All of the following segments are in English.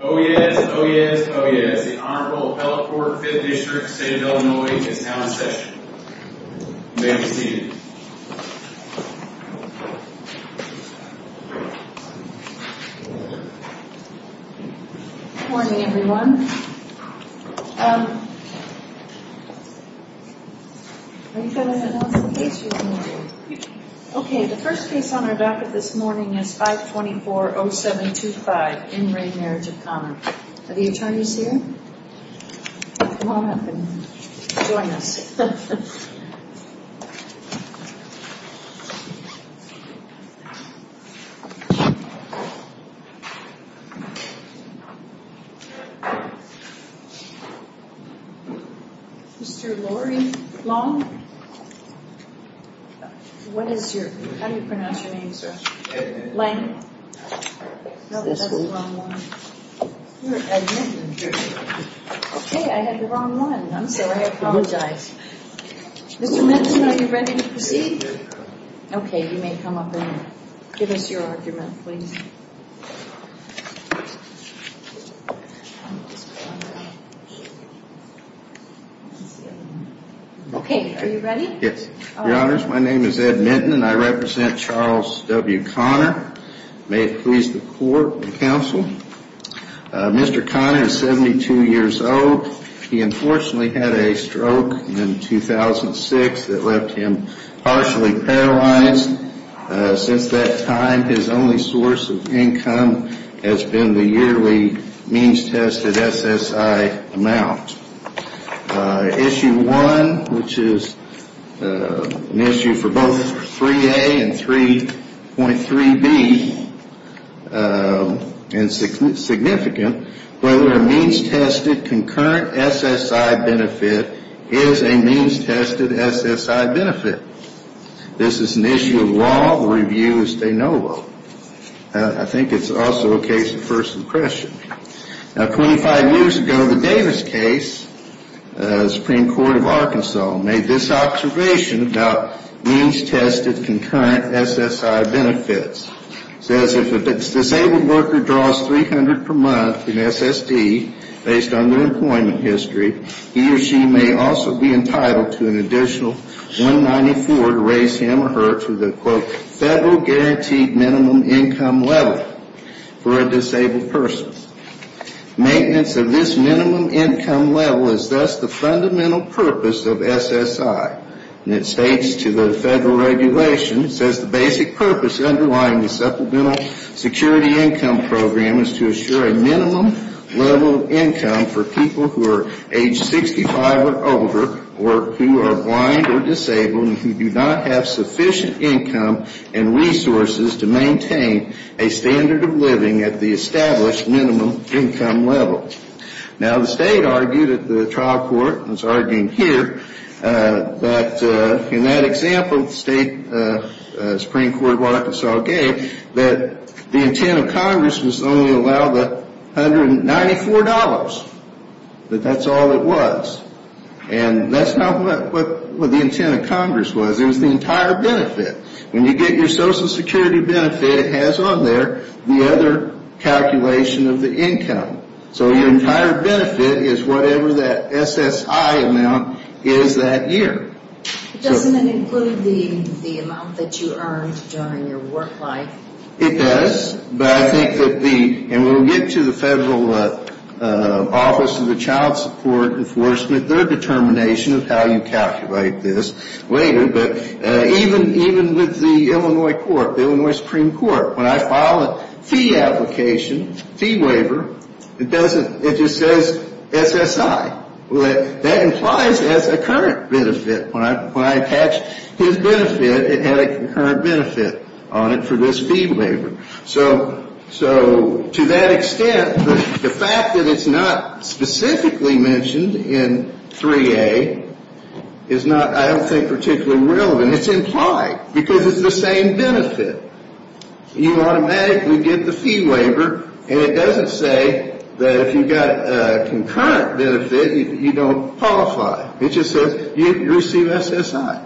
Oh yes, oh yes, oh yes, the Honorable Appellate Court of the 5th District of the State of Illinois is now in session. You may be seated. Good morning everyone. Um... Are you going to announce the case this morning? Okay, the first case on our backet this morning is 524-0725, In Re Marriage of Conner. Are the attorneys here? Come on up and join us. Mr. Lori Long? What is your... how do you pronounce your name, sir? Lang? No, that's the wrong one. You're an admittant here. Okay, I had the wrong one. I'm sorry, I apologize. Mr. Minson, are you ready to proceed? Okay, you may come up and give us your argument, please. Okay, are you ready? Yes. Your Honors, my name is Ed Minton and I represent Charles W. Conner. May it please the Court and Counsel. Mr. Conner is 72 years old. He unfortunately had a stroke in 2006 that left him partially paralyzed. Since that time, his only source of income has been the yearly means-tested SSI amount. Issue one, which is an issue for both 3A and 3.3B and significant, whether a means-tested concurrent SSI benefit is a means-tested SSI benefit. This is an issue of law. The review is de novo. I think it's also a case of first impression. Now, 25 years ago, the Davis case, Supreme Court of Arkansas, made this observation about means-tested concurrent SSI benefits. It says if a disabled worker draws $300 per month in SSD based on their employment history, he or she may also be entitled to an additional $194 to raise him or her to the, quote, federal guaranteed minimum income level for a disabled person. Maintenance of this minimum income level is thus the fundamental purpose of SSI. And it states to the federal regulation, it says the basic purpose underlying the Supplemental Security Income Program is to assure a minimum level of income for people who are age 65 or older or who are blind or disabled and who do not have sufficient income and resources to maintain a standard of living at the established minimum income level. Now, the state argued at the trial court, and it's argued here, that in that example the state Supreme Court of Arkansas gave, that the intent of Congress was to only allow the $194, that that's all it was. And that's not what the intent of Congress was. It was the entire benefit. When you get your Social Security benefit, it has on there the other calculation of the income. So your entire benefit is whatever that SSI amount is that year. Doesn't it include the amount that you earned during your work life? It does. But I think that the, and we'll get to the Federal Office of the Child Support Enforcement, their determination of how you calculate this later. But even with the Illinois court, the Illinois Supreme Court, when I file a fee application, fee waiver, it doesn't, it just says SSI. That implies as a current benefit. When I attached his benefit, it had a concurrent benefit on it for this fee waiver. So to that extent, the fact that it's not specifically mentioned in 3A is not, I don't think, particularly relevant. It's implied because it's the same benefit. You automatically get the fee waiver, and it doesn't say that if you've got a concurrent benefit, you don't qualify. It just says you receive SSI.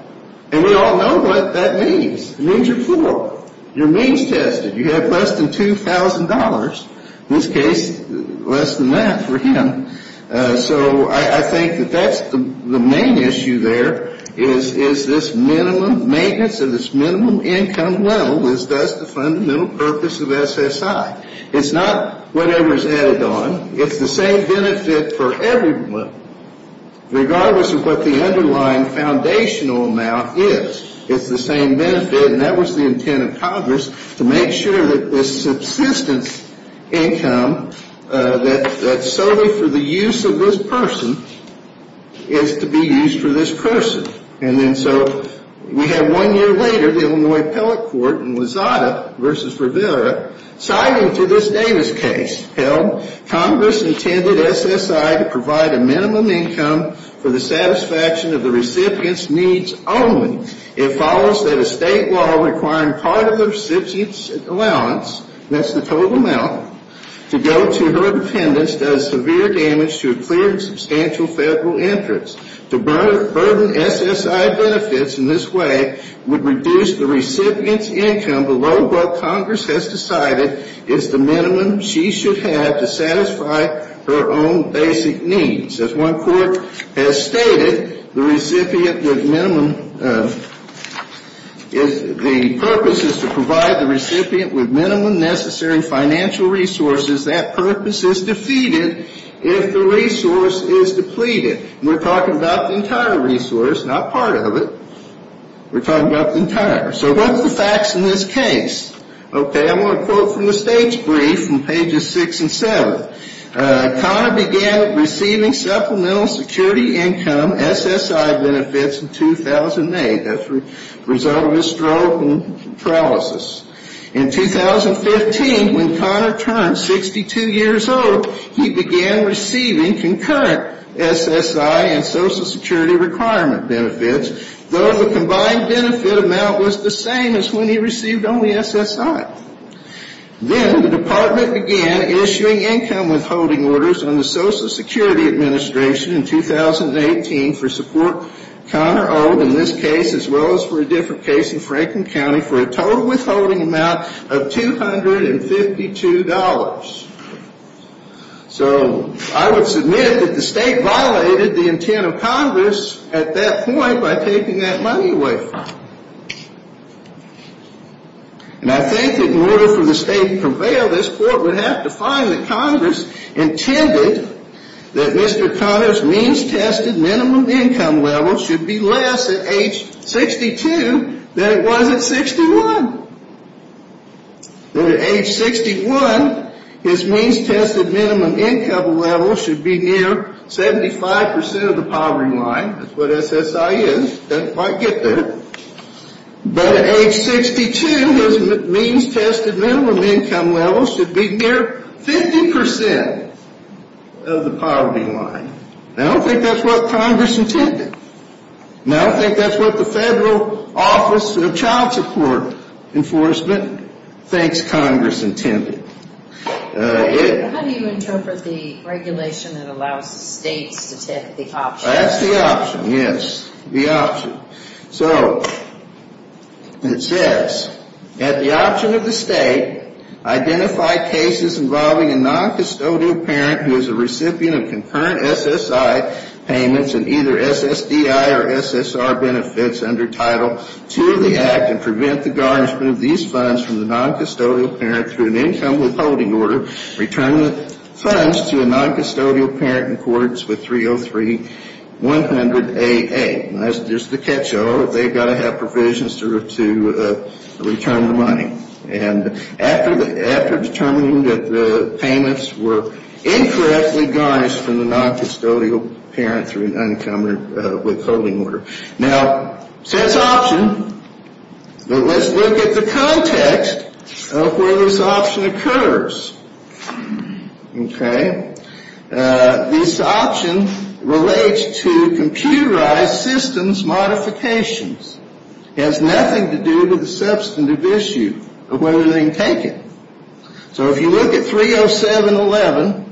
And we all know what that means. It means you're poor. You're means tested. You have less than $2,000. In this case, less than that for him. So I think that that's the main issue there is this minimum maintenance and this minimum income level is thus the fundamental purpose of SSI. It's not whatever is added on. It's the same benefit for everyone, regardless of what the underlying foundational amount is. It's the same benefit, and that was the intent of Congress, to make sure that this subsistence income that's solely for the use of this person is to be used for this person. And then so we have one year later, the Illinois Appellate Court in Lozada v. Rivera, citing to this Davis case, Congress intended SSI to provide a minimum income for the satisfaction of the recipient's needs only. It follows that a state law requiring part of the recipient's allowance, that's the total amount, to go to her dependents does severe damage to a clearly substantial federal interest. To burden SSI benefits in this way would reduce the recipient's income below what Congress has decided is the minimum she should have to satisfy her own basic needs. As one court has stated, the recipient with minimum, if the purpose is to provide the recipient with minimum necessary financial resources, that purpose is defeated if the resource is depleted. We're talking about the entire resource, not part of it. We're talking about the entire. So what's the facts in this case? Okay. I want to quote from the state's brief from pages 6 and 7. Conner began receiving supplemental security income SSI benefits in 2008. That's the result of his stroke and paralysis. In 2015, when Conner turned 62 years old, he began receiving concurrent SSI and Social Security requirement benefits, though the combined benefit amount was the same as when he received only SSI. Then the department began issuing income withholding orders on the Social Security Administration in 2018 for support Conner owed in this case as well as for a different case in Franklin County for a total withholding amount of $252. So I would submit that the state violated the intent of Congress at that point by taking that money away from him. And I think that in order for the state to prevail, this court would have to find that Congress intended that Mr. Conner's means-tested minimum income level should be less at age 62 than it was at 61. That at age 61, his means-tested minimum income level should be near 75% of the poverty line. That's what SSI is. Doesn't quite get there. But at age 62, his means-tested minimum income level should be near 50% of the poverty line. And I don't think that's what Congress intended. Now, I think that's what the Federal Office of Child Support Enforcement thinks Congress intended. How do you interpret the regulation that allows the states to take the option? That's the option, yes, the option. So it says, at the option of the state, identify cases involving a non-custodial parent who is a recipient of concurrent SSI payments and either SSDI or SSR benefits under Title II of the Act, and prevent the garnishment of these funds from the non-custodial parent through an income withholding order, return the funds to a non-custodial parent in courts with 303-100AA. There's the catch-all. They've got to have provisions to return the money. And after determining that the payments were incorrectly garnished from the non-custodial parent through an income withholding order. Now, it says option, but let's look at the context of where this option occurs. Okay. This option relates to computerized systems modifications. It has nothing to do with the substantive issue of whether they can take it. So if you look at 307-11,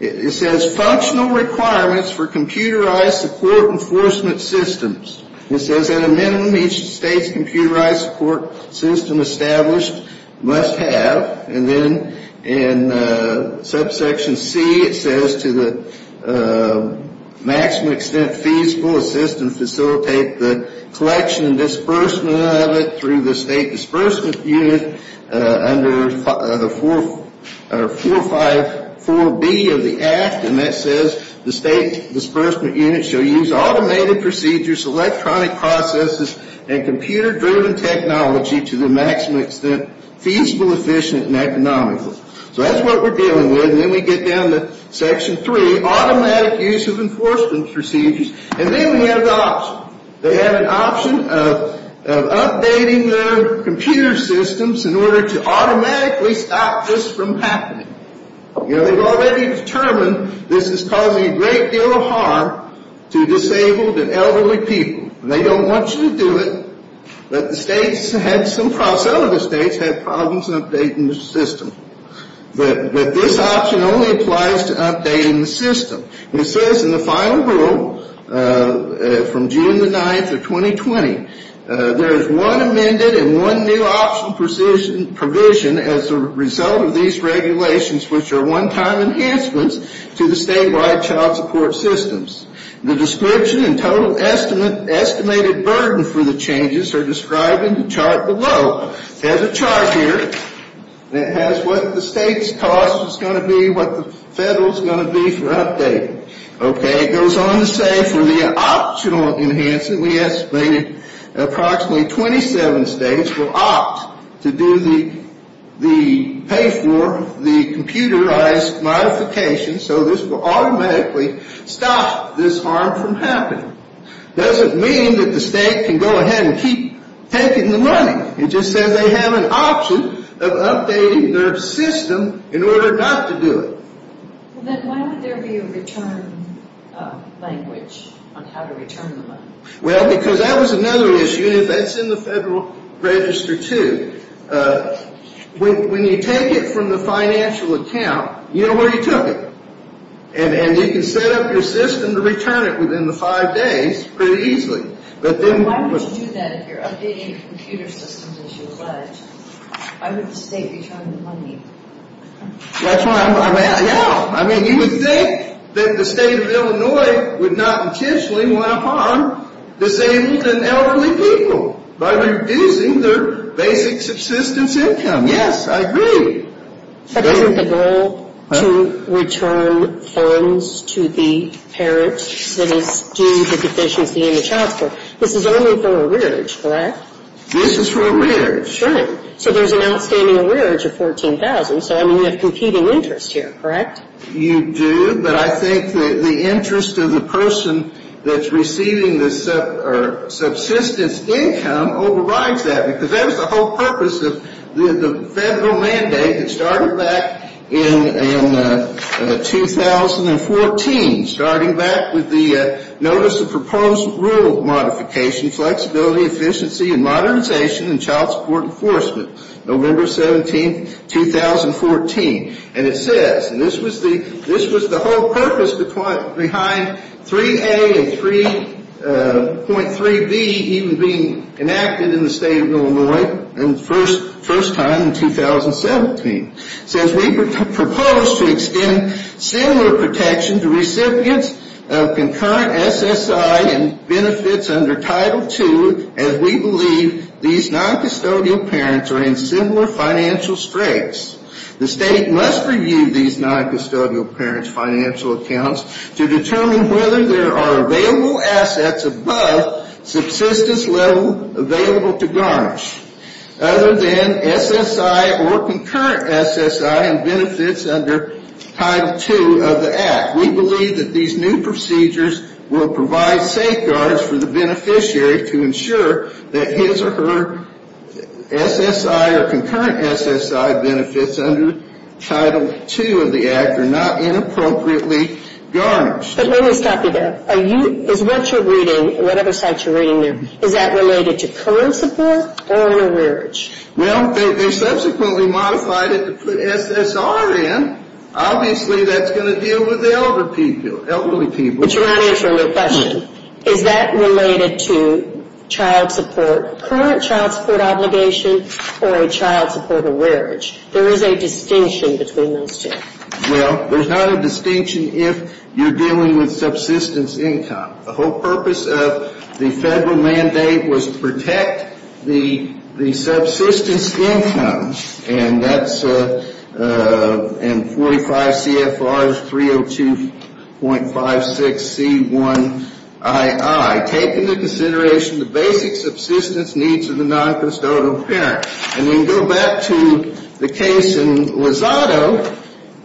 it says functional requirements for computerized support enforcement systems. It says at a minimum, each state's computerized support system established must have, and then in subsection C, it says to the maximum extent feasible, a system facilitate the collection and disbursement of it through the state disbursement unit under 454B of the Act, and that says the state disbursement unit shall use automated procedures, electronic processes, and computer-driven technology to the maximum extent feasible, efficient, and economical. So that's what we're dealing with. And then we get down to section three, automatic use of enforcement procedures. And then we have the option. They have an option of updating their computer systems in order to automatically stop this from happening. You know, they've already determined this is causing a great deal of harm to disabled and elderly people. They don't want you to do it, but some of the states have problems updating the system. But this option only applies to updating the system. It says in the final rule from June the 9th of 2020, there is one amended and one new option provision as a result of these regulations, which are one-time enhancements to the statewide child support systems. The description and total estimated burden for the changes are described in the chart below. There's a chart here that has what the state's cost is going to be, what the federal's going to be for updating. Okay. It goes on to say for the optional enhancement, we estimated approximately 27 states will opt to do the pay-for, the computerized modification, so this will automatically stop this harm from happening. It doesn't mean that the state can go ahead and keep taking the money. It just says they have an option of updating their system in order not to do it. Then why would there be a return language on how to return the money? Well, because that was another issue, and that's in the federal register, too. When you take it from the financial account, you know where you took it, and you can set up your system to return it within the five days pretty easily. Why would you do that if you're updating your computer systems as you pledge? Why would the state return the money? That's why I'm asking now. I mean, you would think that the state of Illinois would not intentionally want to harm disabled and elderly people by reducing their basic subsistence income. Yes, I agree. But isn't the goal to return funds to the parents that is due to deficiency in the child support, this is only for a rearage, correct? This is for a rearage. Sure. So there's an outstanding rearage of $14,000, so, I mean, you have competing interest here, correct? You do, but I think the interest of the person that's receiving the subsistence income overrides that, because that was the whole purpose of the federal mandate that started back in 2014, starting back with the Notice of Proposed Rule Modification, Flexibility, Efficiency, and Modernization in Child Support Enforcement, November 17, 2014. And it says, and this was the whole purpose behind 3A and 3.3B even being enacted in the state of Illinois first time in 2017. It says, we propose to extend similar protection to recipients of concurrent SSI and benefits under Title II as we believe these noncustodial parents are in similar financial straits. The state must review these noncustodial parents' financial accounts to determine whether there are available assets above subsistence level available to garnish other than SSI or concurrent SSI and benefits under Title II of the Act. We believe that these new procedures will provide safeguards for the beneficiary to ensure that his or her SSI or concurrent SSI benefits under Title II of the Act are not inappropriately garnished. But let me stop you there. Are you, is what you're reading, what other sites you're reading there, is that related to current support or an arrearage? Well, they subsequently modified it to put SSR in. Obviously, that's going to deal with the elderly people. But you're not answering the question. Is that related to child support, current child support obligation or a child support arrearage? There is a distinction between those two. Well, there's not a distinction if you're dealing with subsistence income. The whole purpose of the federal mandate was to protect the subsistence income. And that's in 45 CFR 302.56C1II, taking into consideration the basic subsistence needs of the noncustodial parent. And we can go back to the case in Lozado,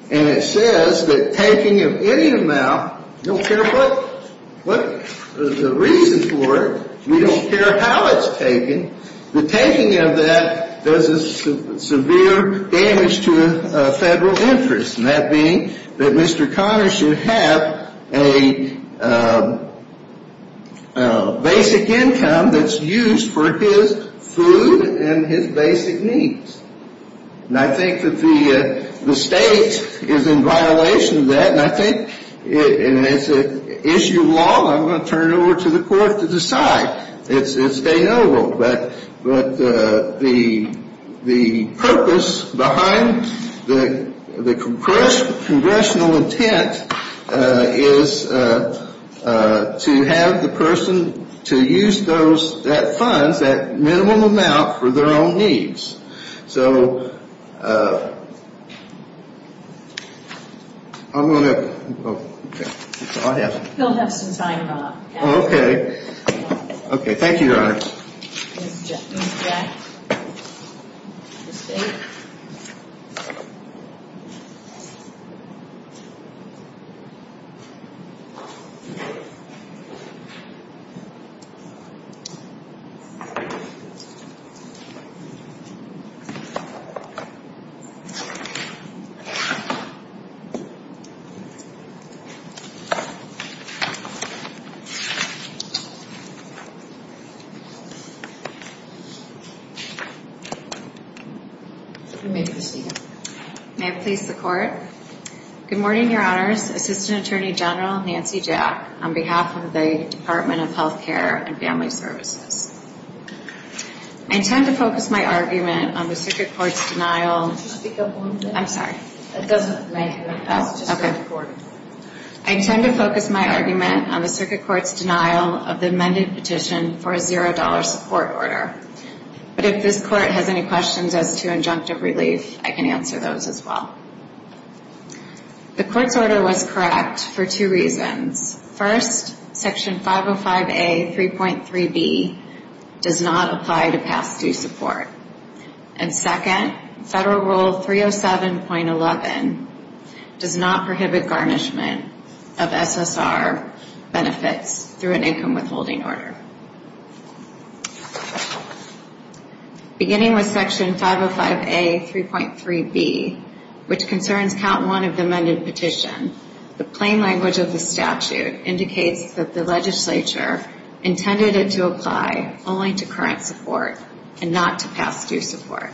and it says that taking of any amount, we don't care what the reason for it, we don't care how it's taken, the taking of that does severe damage to a federal interest, and that being that Mr. Conner should have a basic income that's used for his food and his basic needs. And I think that the state is in violation of that, and I think, and it's an issue of law, so I'm going to turn it over to the court to decide. It's stay noble. But the purpose behind the congressional intent is to have the person to use those, that funds, that minimum amount for their own needs. So I'm going to, oh, okay. He'll have some time off. Oh, okay. Okay. Thank you, Your Honor. You may proceed. May it please the court. Good morning, Your Honors, Assistant Attorney General Nancy Jack, on behalf of the Department of Health Care and Family Services. I intend to focus my argument on the circuit court's denial. Could you speak up a little bit? I'm sorry. That doesn't rank. Okay. I intend to focus my argument on the circuit court's denial of the amended petition for a $0 support order. But if this court has any questions as to injunctive relief, I can answer those as well. The court's order was correct for two reasons. First, Section 505A.3.3b does not apply to past due support. And second, Federal Rule 307.11 does not prohibit garnishment of SSR benefits through an income withholding order. Beginning with Section 505A.3.3b, which concerns Count 1 of the amended petition, the plain language of the statute indicates that the legislature intended it to apply only to current support and not to past due support.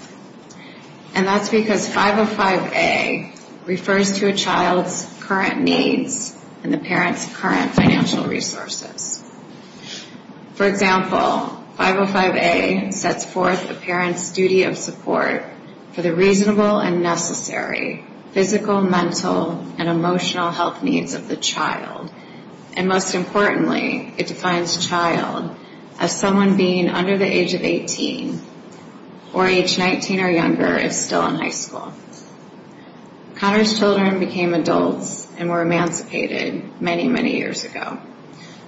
And that's because 505A refers to a child's current needs and the parent's current financial resources. For example, 505A sets forth a parent's duty of support for the reasonable and necessary physical, mental, and emotional health needs of the child. And most importantly, it defines child as someone being under the age of 18 or age 19 or younger if still in high school. Connor's children became adults and were emancipated many, many years ago.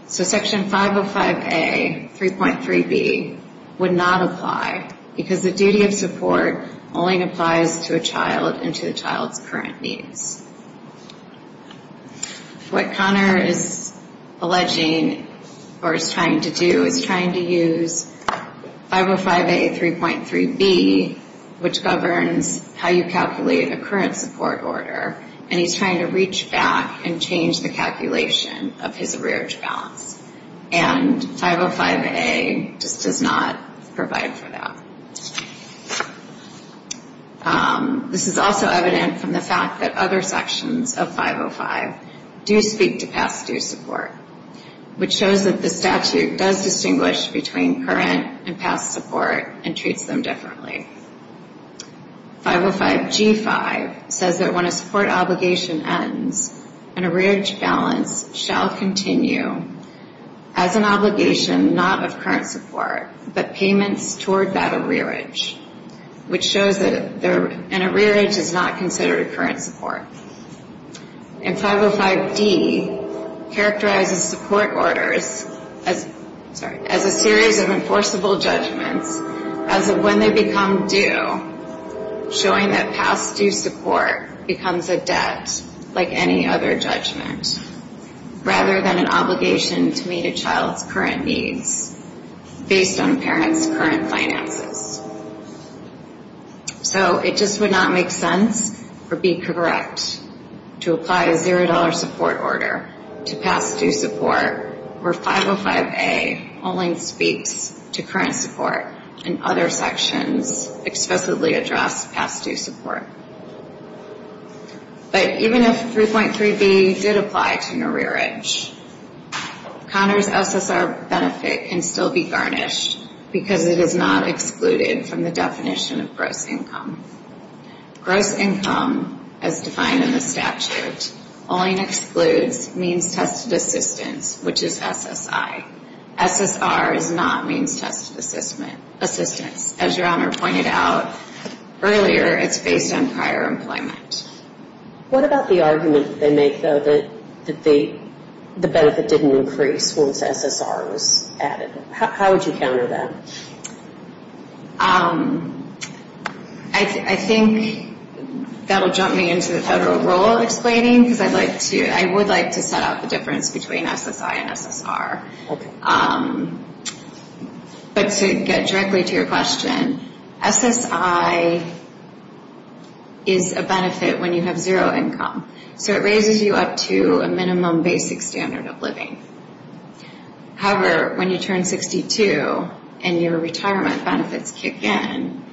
So Section 505A.3.3b would not apply because the duty of support only applies to a child and to the child's current needs. What Connor is alleging or is trying to do is trying to use 505A.3.3b, which governs how you calculate a current support order, and he's trying to reach back and change the calculation of his arrearage balance. And 505A just does not provide for that. This is also evident from the fact that other sections of 505 do speak to past due support, which shows that the statute does distinguish between current and past support and treats them differently. 505G.5 says that when a support obligation ends, an arrearage balance shall continue as an obligation not of current support, but payments toward that arrearage, which shows that an arrearage is not considered a current support. And 505D characterizes support orders as a series of enforceable judgments as of when they become due, showing that past due support becomes a debt like any other judgment, rather than an obligation to meet a child's current needs based on a parent's current finances. So it just would not make sense or be correct to apply a $0 support order to past due support where 505A only speaks to current support and other sections explicitly address past due support. But even if 3.3B did apply to an arrearage, Conor's SSR benefit can still be garnished because it is not excluded from the definition of gross income. Gross income, as defined in the statute, only excludes means-tested assistance, which is SSI. SSR is not means-tested assistance. As Your Honor pointed out earlier, it's based on prior employment. What about the argument that they make, though, that the benefit didn't increase once SSR was added? How would you counter that? I think that will jump me into the federal role of explaining, because I would like to set out the difference between SSI and SSR. But to get directly to your question, SSI is a benefit when you have zero income. So it raises you up to a minimum basic standard of living. However, when you turn 62 and your retirement benefits kick in,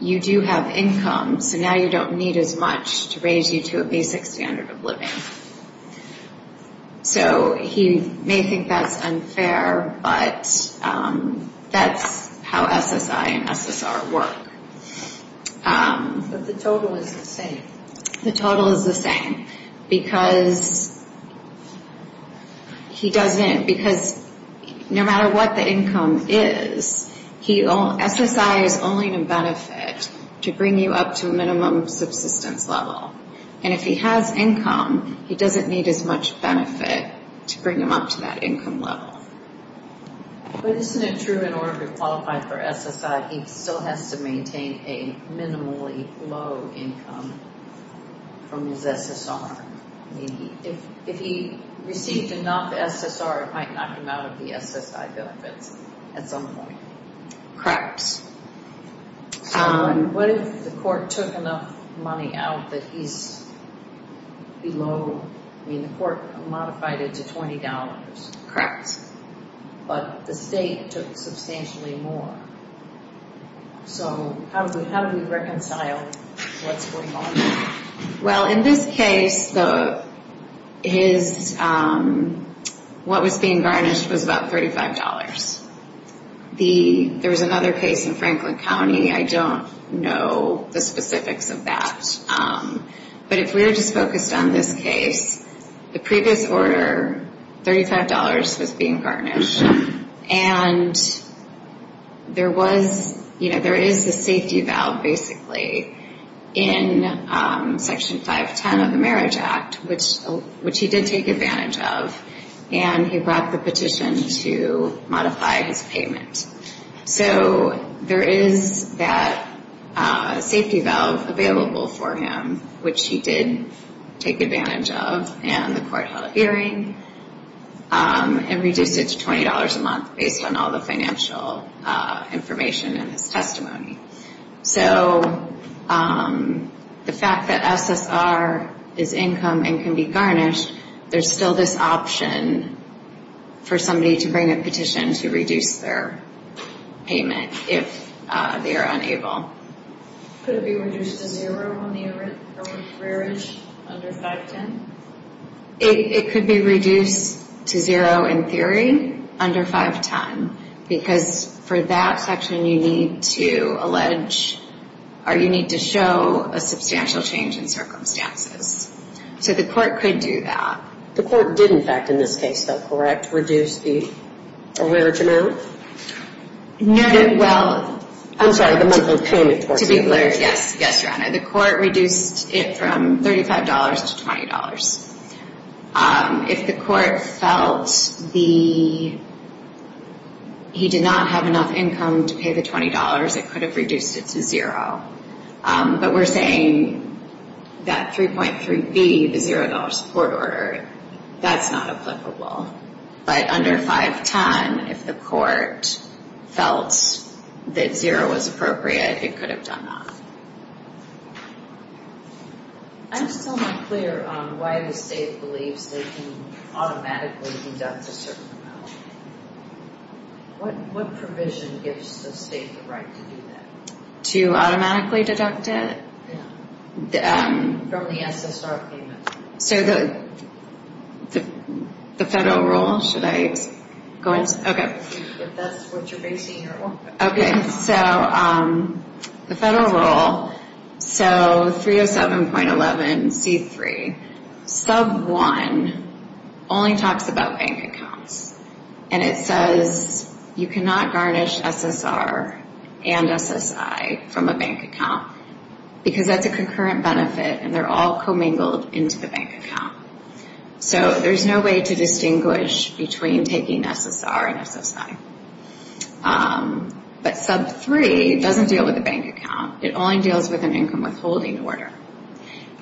you do have income, so now you don't need as much to raise you to a basic standard of living. So he may think that's unfair, but that's how SSI and SSR work. But the total is the same. The total is the same, because no matter what the income is, SSI is only a benefit to bring you up to a minimum subsistence level. And if he has income, he doesn't need as much benefit to bring him up to that income level. But isn't it true in order to qualify for SSI, he still has to maintain a minimally low income from his SSR? If he received enough SSR, it might knock him out of the SSI benefits at some point. Correct. So what if the court took enough money out that he's below... I mean, the court modified it to $20. Correct. But the state took substantially more. So how do we reconcile what's going on? Well, in this case, what was being garnished was about $35. There was another case in Franklin County. I don't know the specifics of that. But if we were just focused on this case, the previous order, $35 was being garnished. And there is a safety valve, basically, in Section 510 of the Marriage Act, which he did take advantage of. And he brought the petition to modify his payment. So there is that safety valve available for him, which he did take advantage of. And the court held a hearing and reduced it to $20 a month based on all the financial information in his testimony. So the fact that SSR is income and can be garnished, there's still this option for somebody to bring a petition to reduce their payment if they are unable. Could it be reduced to zero on the arrearage under 510? It could be reduced to zero in theory under 510. Because for that section, you need to show a substantial change in circumstances. So the court could do that. The court did, in fact, in this case, though, correct, reduce the arrearage amount? No, well, to be clear, yes, Your Honor. The court reduced it from $35 to $20. If the court felt he did not have enough income to pay the $20, it could have reduced it to zero. But we're saying that 3.3b, the $0 court order, that's not applicable. But under 510, if the court felt that zero was appropriate, it could have done that. I'm still not clear on why the state believes they can automatically deduct a certain amount. What provision gives the state the right to do that? To automatically deduct it? Yeah, from the SSR payment. So the federal rule, should I go into it? If that's what you're basing your argument on. Okay, so the federal rule, so 307.11c3, sub 1 only talks about bank accounts. And it says you cannot garnish SSR and SSI from a bank account, because that's a concurrent benefit and they're all commingled into the bank account. So there's no way to distinguish between taking SSR and SSI. But sub 3 doesn't deal with a bank account. It only deals with an income withholding order.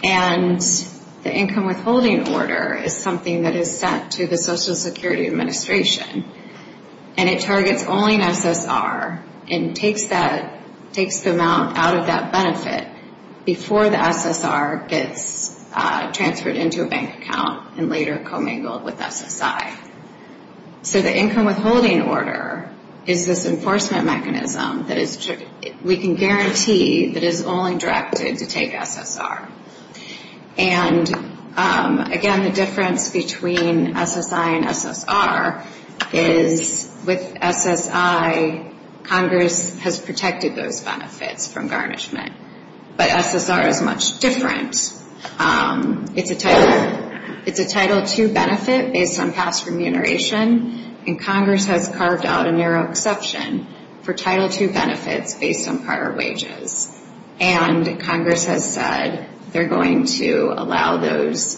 And the income withholding order is something that is set to the Social Security Administration. And it targets only an SSR and takes the amount out of that benefit before the SSR gets transferred into a bank account and later commingled with SSI. So the income withholding order is this enforcement mechanism that we can guarantee that is only directed to take SSR. And again, the difference between SSI and SSR is with SSI, Congress has protected those benefits from garnishment. But SSR is much different. It's a Title II benefit based on past remuneration, and Congress has carved out a narrow exception for Title II benefits based on prior wages. And Congress has said they're going to allow those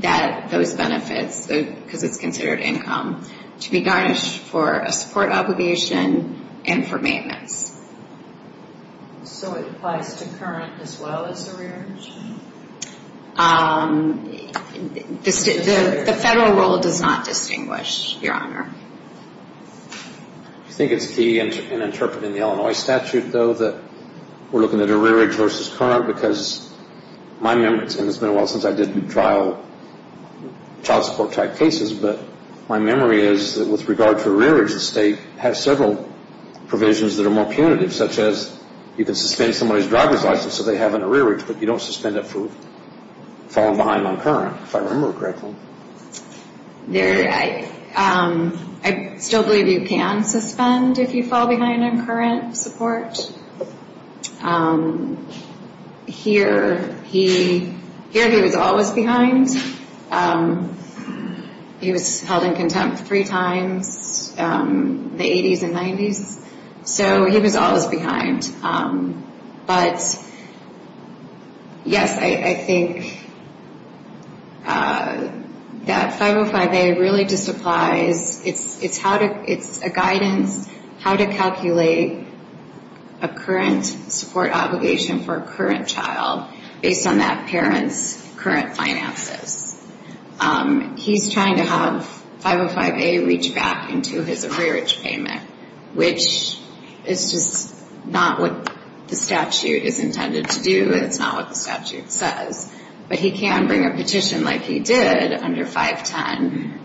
benefits, because it's considered income, to be garnished for a support obligation and for maintenance. So it applies to current as well as the rear? The federal rule does not distinguish, Your Honor. Do you think it's key in interpreting the Illinois statute, though, that we're looking at a rearage versus current? Because my memory, and it's been a while since I did trial child support type cases, but my memory is that with regard to rearage, the state has several provisions that are more punitive, such as you can suspend somebody's driver's license if they have an arrearage, but you don't suspend it for falling behind on current, if I remember correctly. I still believe you can suspend if you fall behind on current support. Here he was always behind. He was held in contempt three times, the 80s and 90s. So he was always behind. But, yes, I think that 505A really just applies. It's a guidance how to calculate a current support obligation for a current child based on that parent's current finances. He's trying to have 505A reach back into his arrearage payment, which is just not what the statute is intended to do. It's not what the statute says. But he can bring a petition like he did under 510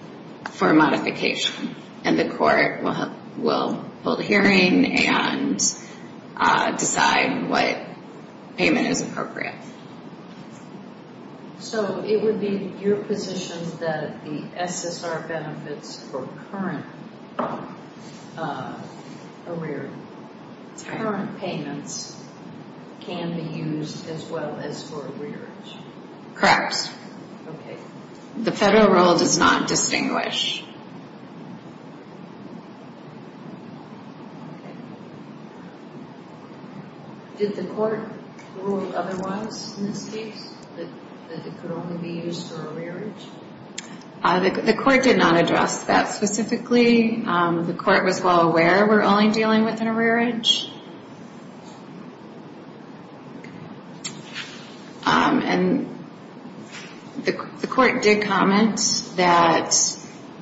for a modification, and the court will hold a hearing and decide what payment is appropriate. So it would be your position that the SSR benefits for current arrearage, current payments, can be used as well as for arrearage? Correct. Okay. The federal rule does not distinguish. Did the court rule otherwise in this case, that it could only be used for arrearage? The court did not address that specifically. The court was well aware we're only dealing with an arrearage. And the court did comment that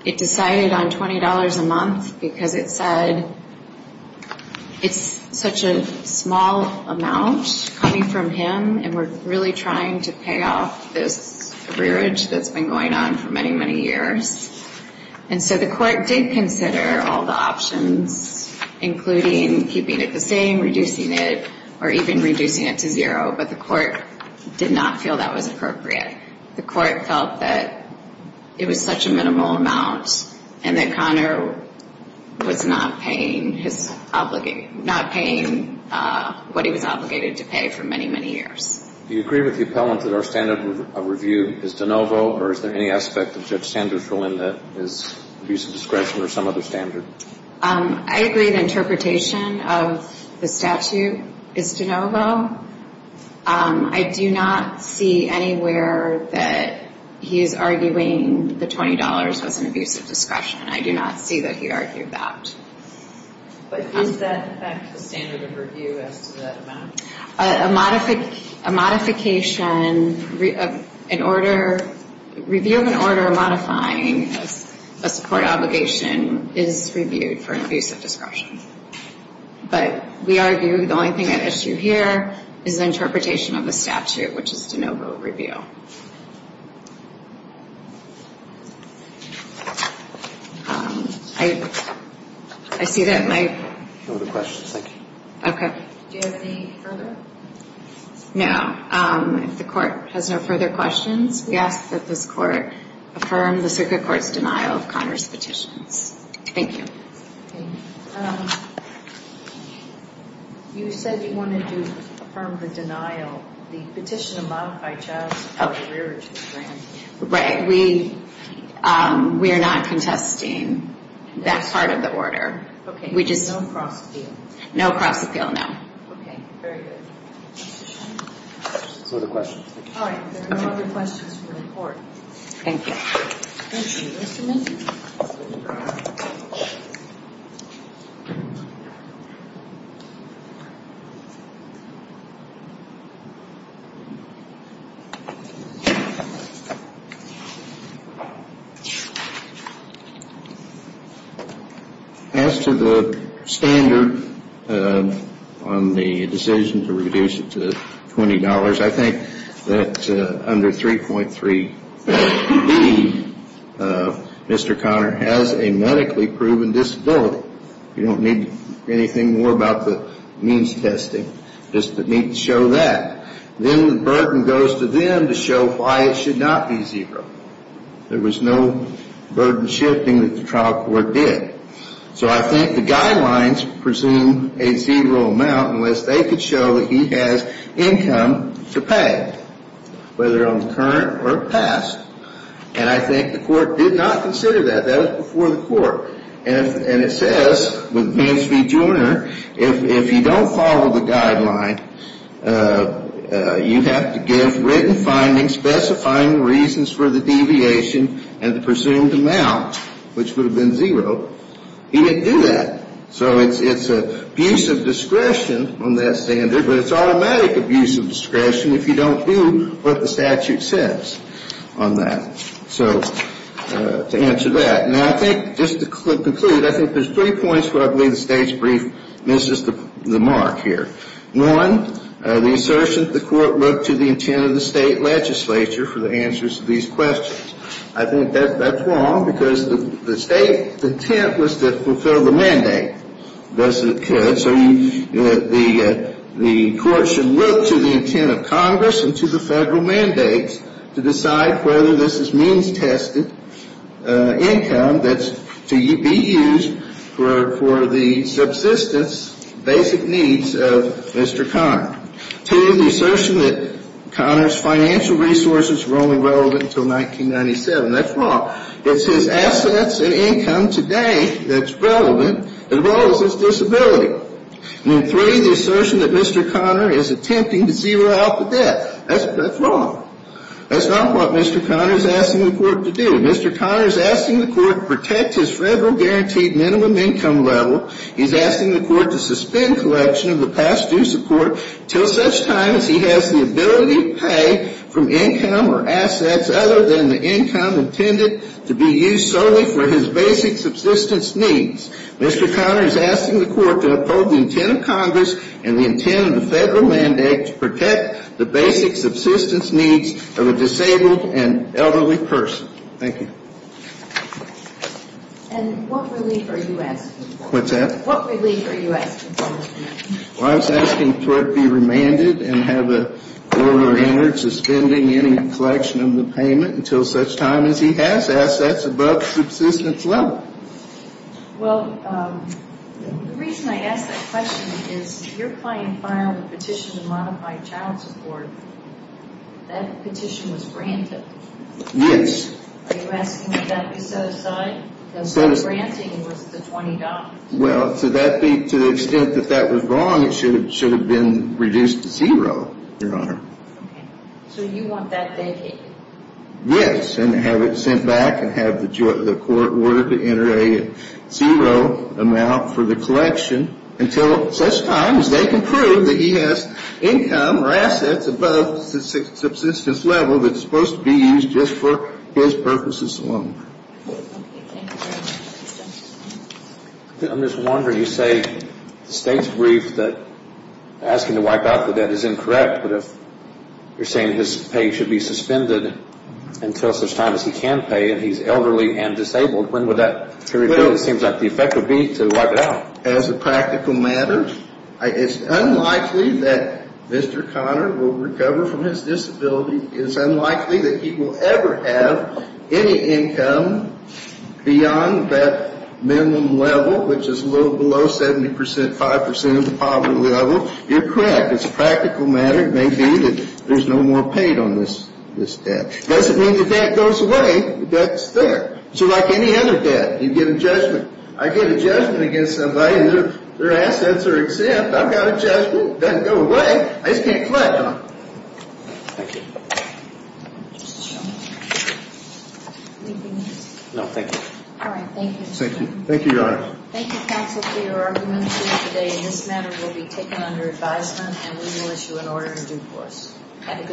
it decided on $20 a month because it said it's such a small amount coming from him and we're really trying to pay off this arrearage that's been going on for many, many years. And so the court did consider all the options, including keeping it current. Keeping it the same, reducing it, or even reducing it to zero. But the court did not feel that was appropriate. The court felt that it was such a minimal amount and that Connor was not paying what he was obligated to pay for many, many years. Do you agree with the appellant that our standard of review is de novo, or is there any aspect of Judge Sanders' ruling that is abuse of discretion or some other standard? I agree the interpretation of the statute is de novo. I do not see anywhere that he is arguing the $20 was an abuse of discretion. I do not see that he argued that. But does that affect the standard of review as to that amount? A modification, an order, review of an order modifying a support obligation is reviewed for abuse of discretion. But we argue the only thing at issue here is the interpretation of the statute, which is de novo review. I see that my... No other questions. Thank you. Okay. Do you have any further? No. If the court has no further questions, we ask that this court affirm the circuit court's denial of Connor's petitions. Thank you. Okay. You said you wanted to affirm the denial. The petition of modified child support... Right. We are not contesting that part of the order. Okay. We just... No cross appeal. No cross appeal, no. Okay. Very good. No other questions. All right. There are no other questions for the court. Thank you. Thank you. Any testimony? As to the standard on the decision to reduce it to $20, I think that under 3.3b, Mr. Connor has a medically proven disability. You don't need anything more about the means testing. Just need to show that. Then the burden goes to them to show why it should not be zero. There was no burden shifting that the trial court did. So I think the guidelines presume a zero amount unless they could show that he has income to pay, whether on the current or past. And I think the court did not consider that. That was before the court. And it says with Vance v. Joyner, if you don't follow the guideline, you have to give written findings specifying the reasons for the deviation and the presumed amount, which would have been zero. He didn't do that. So it's abuse of discretion on that standard, but it's automatic abuse of discretion if you don't do what the statute says on that. So to answer that. Now, I think just to conclude, I think there's three points where I believe the State's brief misses the mark here. One, the assertion that the court looked to the intent of the State legislature for the answers to these questions. I think that's wrong because the State's intent was to fulfill the mandate. Thus it could. So the court should look to the intent of Congress and to the Federal mandates to decide whether this is means-tested income that's to be used for the subsistence, basic needs of Mr. Conner. Two, the assertion that Conner's financial resources were only relevant until 1997. That's wrong. It's his assets and income today that's relevant as well as his disability. And three, the assertion that Mr. Conner is attempting to zero out the debt. That's wrong. That's not what Mr. Conner is asking the court to do. Mr. Conner is asking the court to protect his Federal guaranteed minimum income level. He's asking the court to suspend collection of the past due support until such time as he has the ability to pay from income or assets other than the income intended to be used solely for his basic subsistence needs. Mr. Conner is asking the court to uphold the intent of Congress and the intent of the Federal mandate to protect the basic subsistence needs of a disabled and elderly person. Thank you. And what relief are you asking for? What's that? What relief are you asking for? Well, I was asking the court to be remanded and have an order entered suspending any collection of the payment until such time as he has assets above subsistence level. Well, the reason I ask that question is you're playing fire with a petition to modify child support. That petition was granted. Yes. Are you asking that that be set aside? Because the granting was the $20. Well, to the extent that that was wrong, it should have been reduced to zero, Your Honor. Okay. So you want that vacated? Yes, and have it sent back and have the court order to enter a zero amount for the collection until such time as they can prove that he has income or assets above subsistence level that's supposed to be used just for his purposes alone. I'm just wondering, you say the state's brief that asking to wipe out the debt is incorrect, but if you're saying his pay should be suspended until such time as he can pay and he's elderly and disabled, when would that period be? It seems like the effect would be to wipe it out. As a practical matter, it's unlikely that Mr. Conner will recover from his disability. It's unlikely that he will ever have any income beyond that minimum level, which is a little below 70 percent, 5 percent of the poverty level. You're correct. It's a practical matter. It may be that there's no more paid on this debt. It doesn't mean the debt goes away. The debt's there. So like any other debt, you get a judgment. I get a judgment against somebody and their assets are exempt. I've got a judgment. It doesn't go away. I just can't collect on it. Thank you. Anything else? No, thank you. All right. Thank you, Mr. Conner. Thank you, Your Honor. Thank you, counsel, for your argument today. This matter will be taken under advisement and we will issue an order in due course. Have a good day.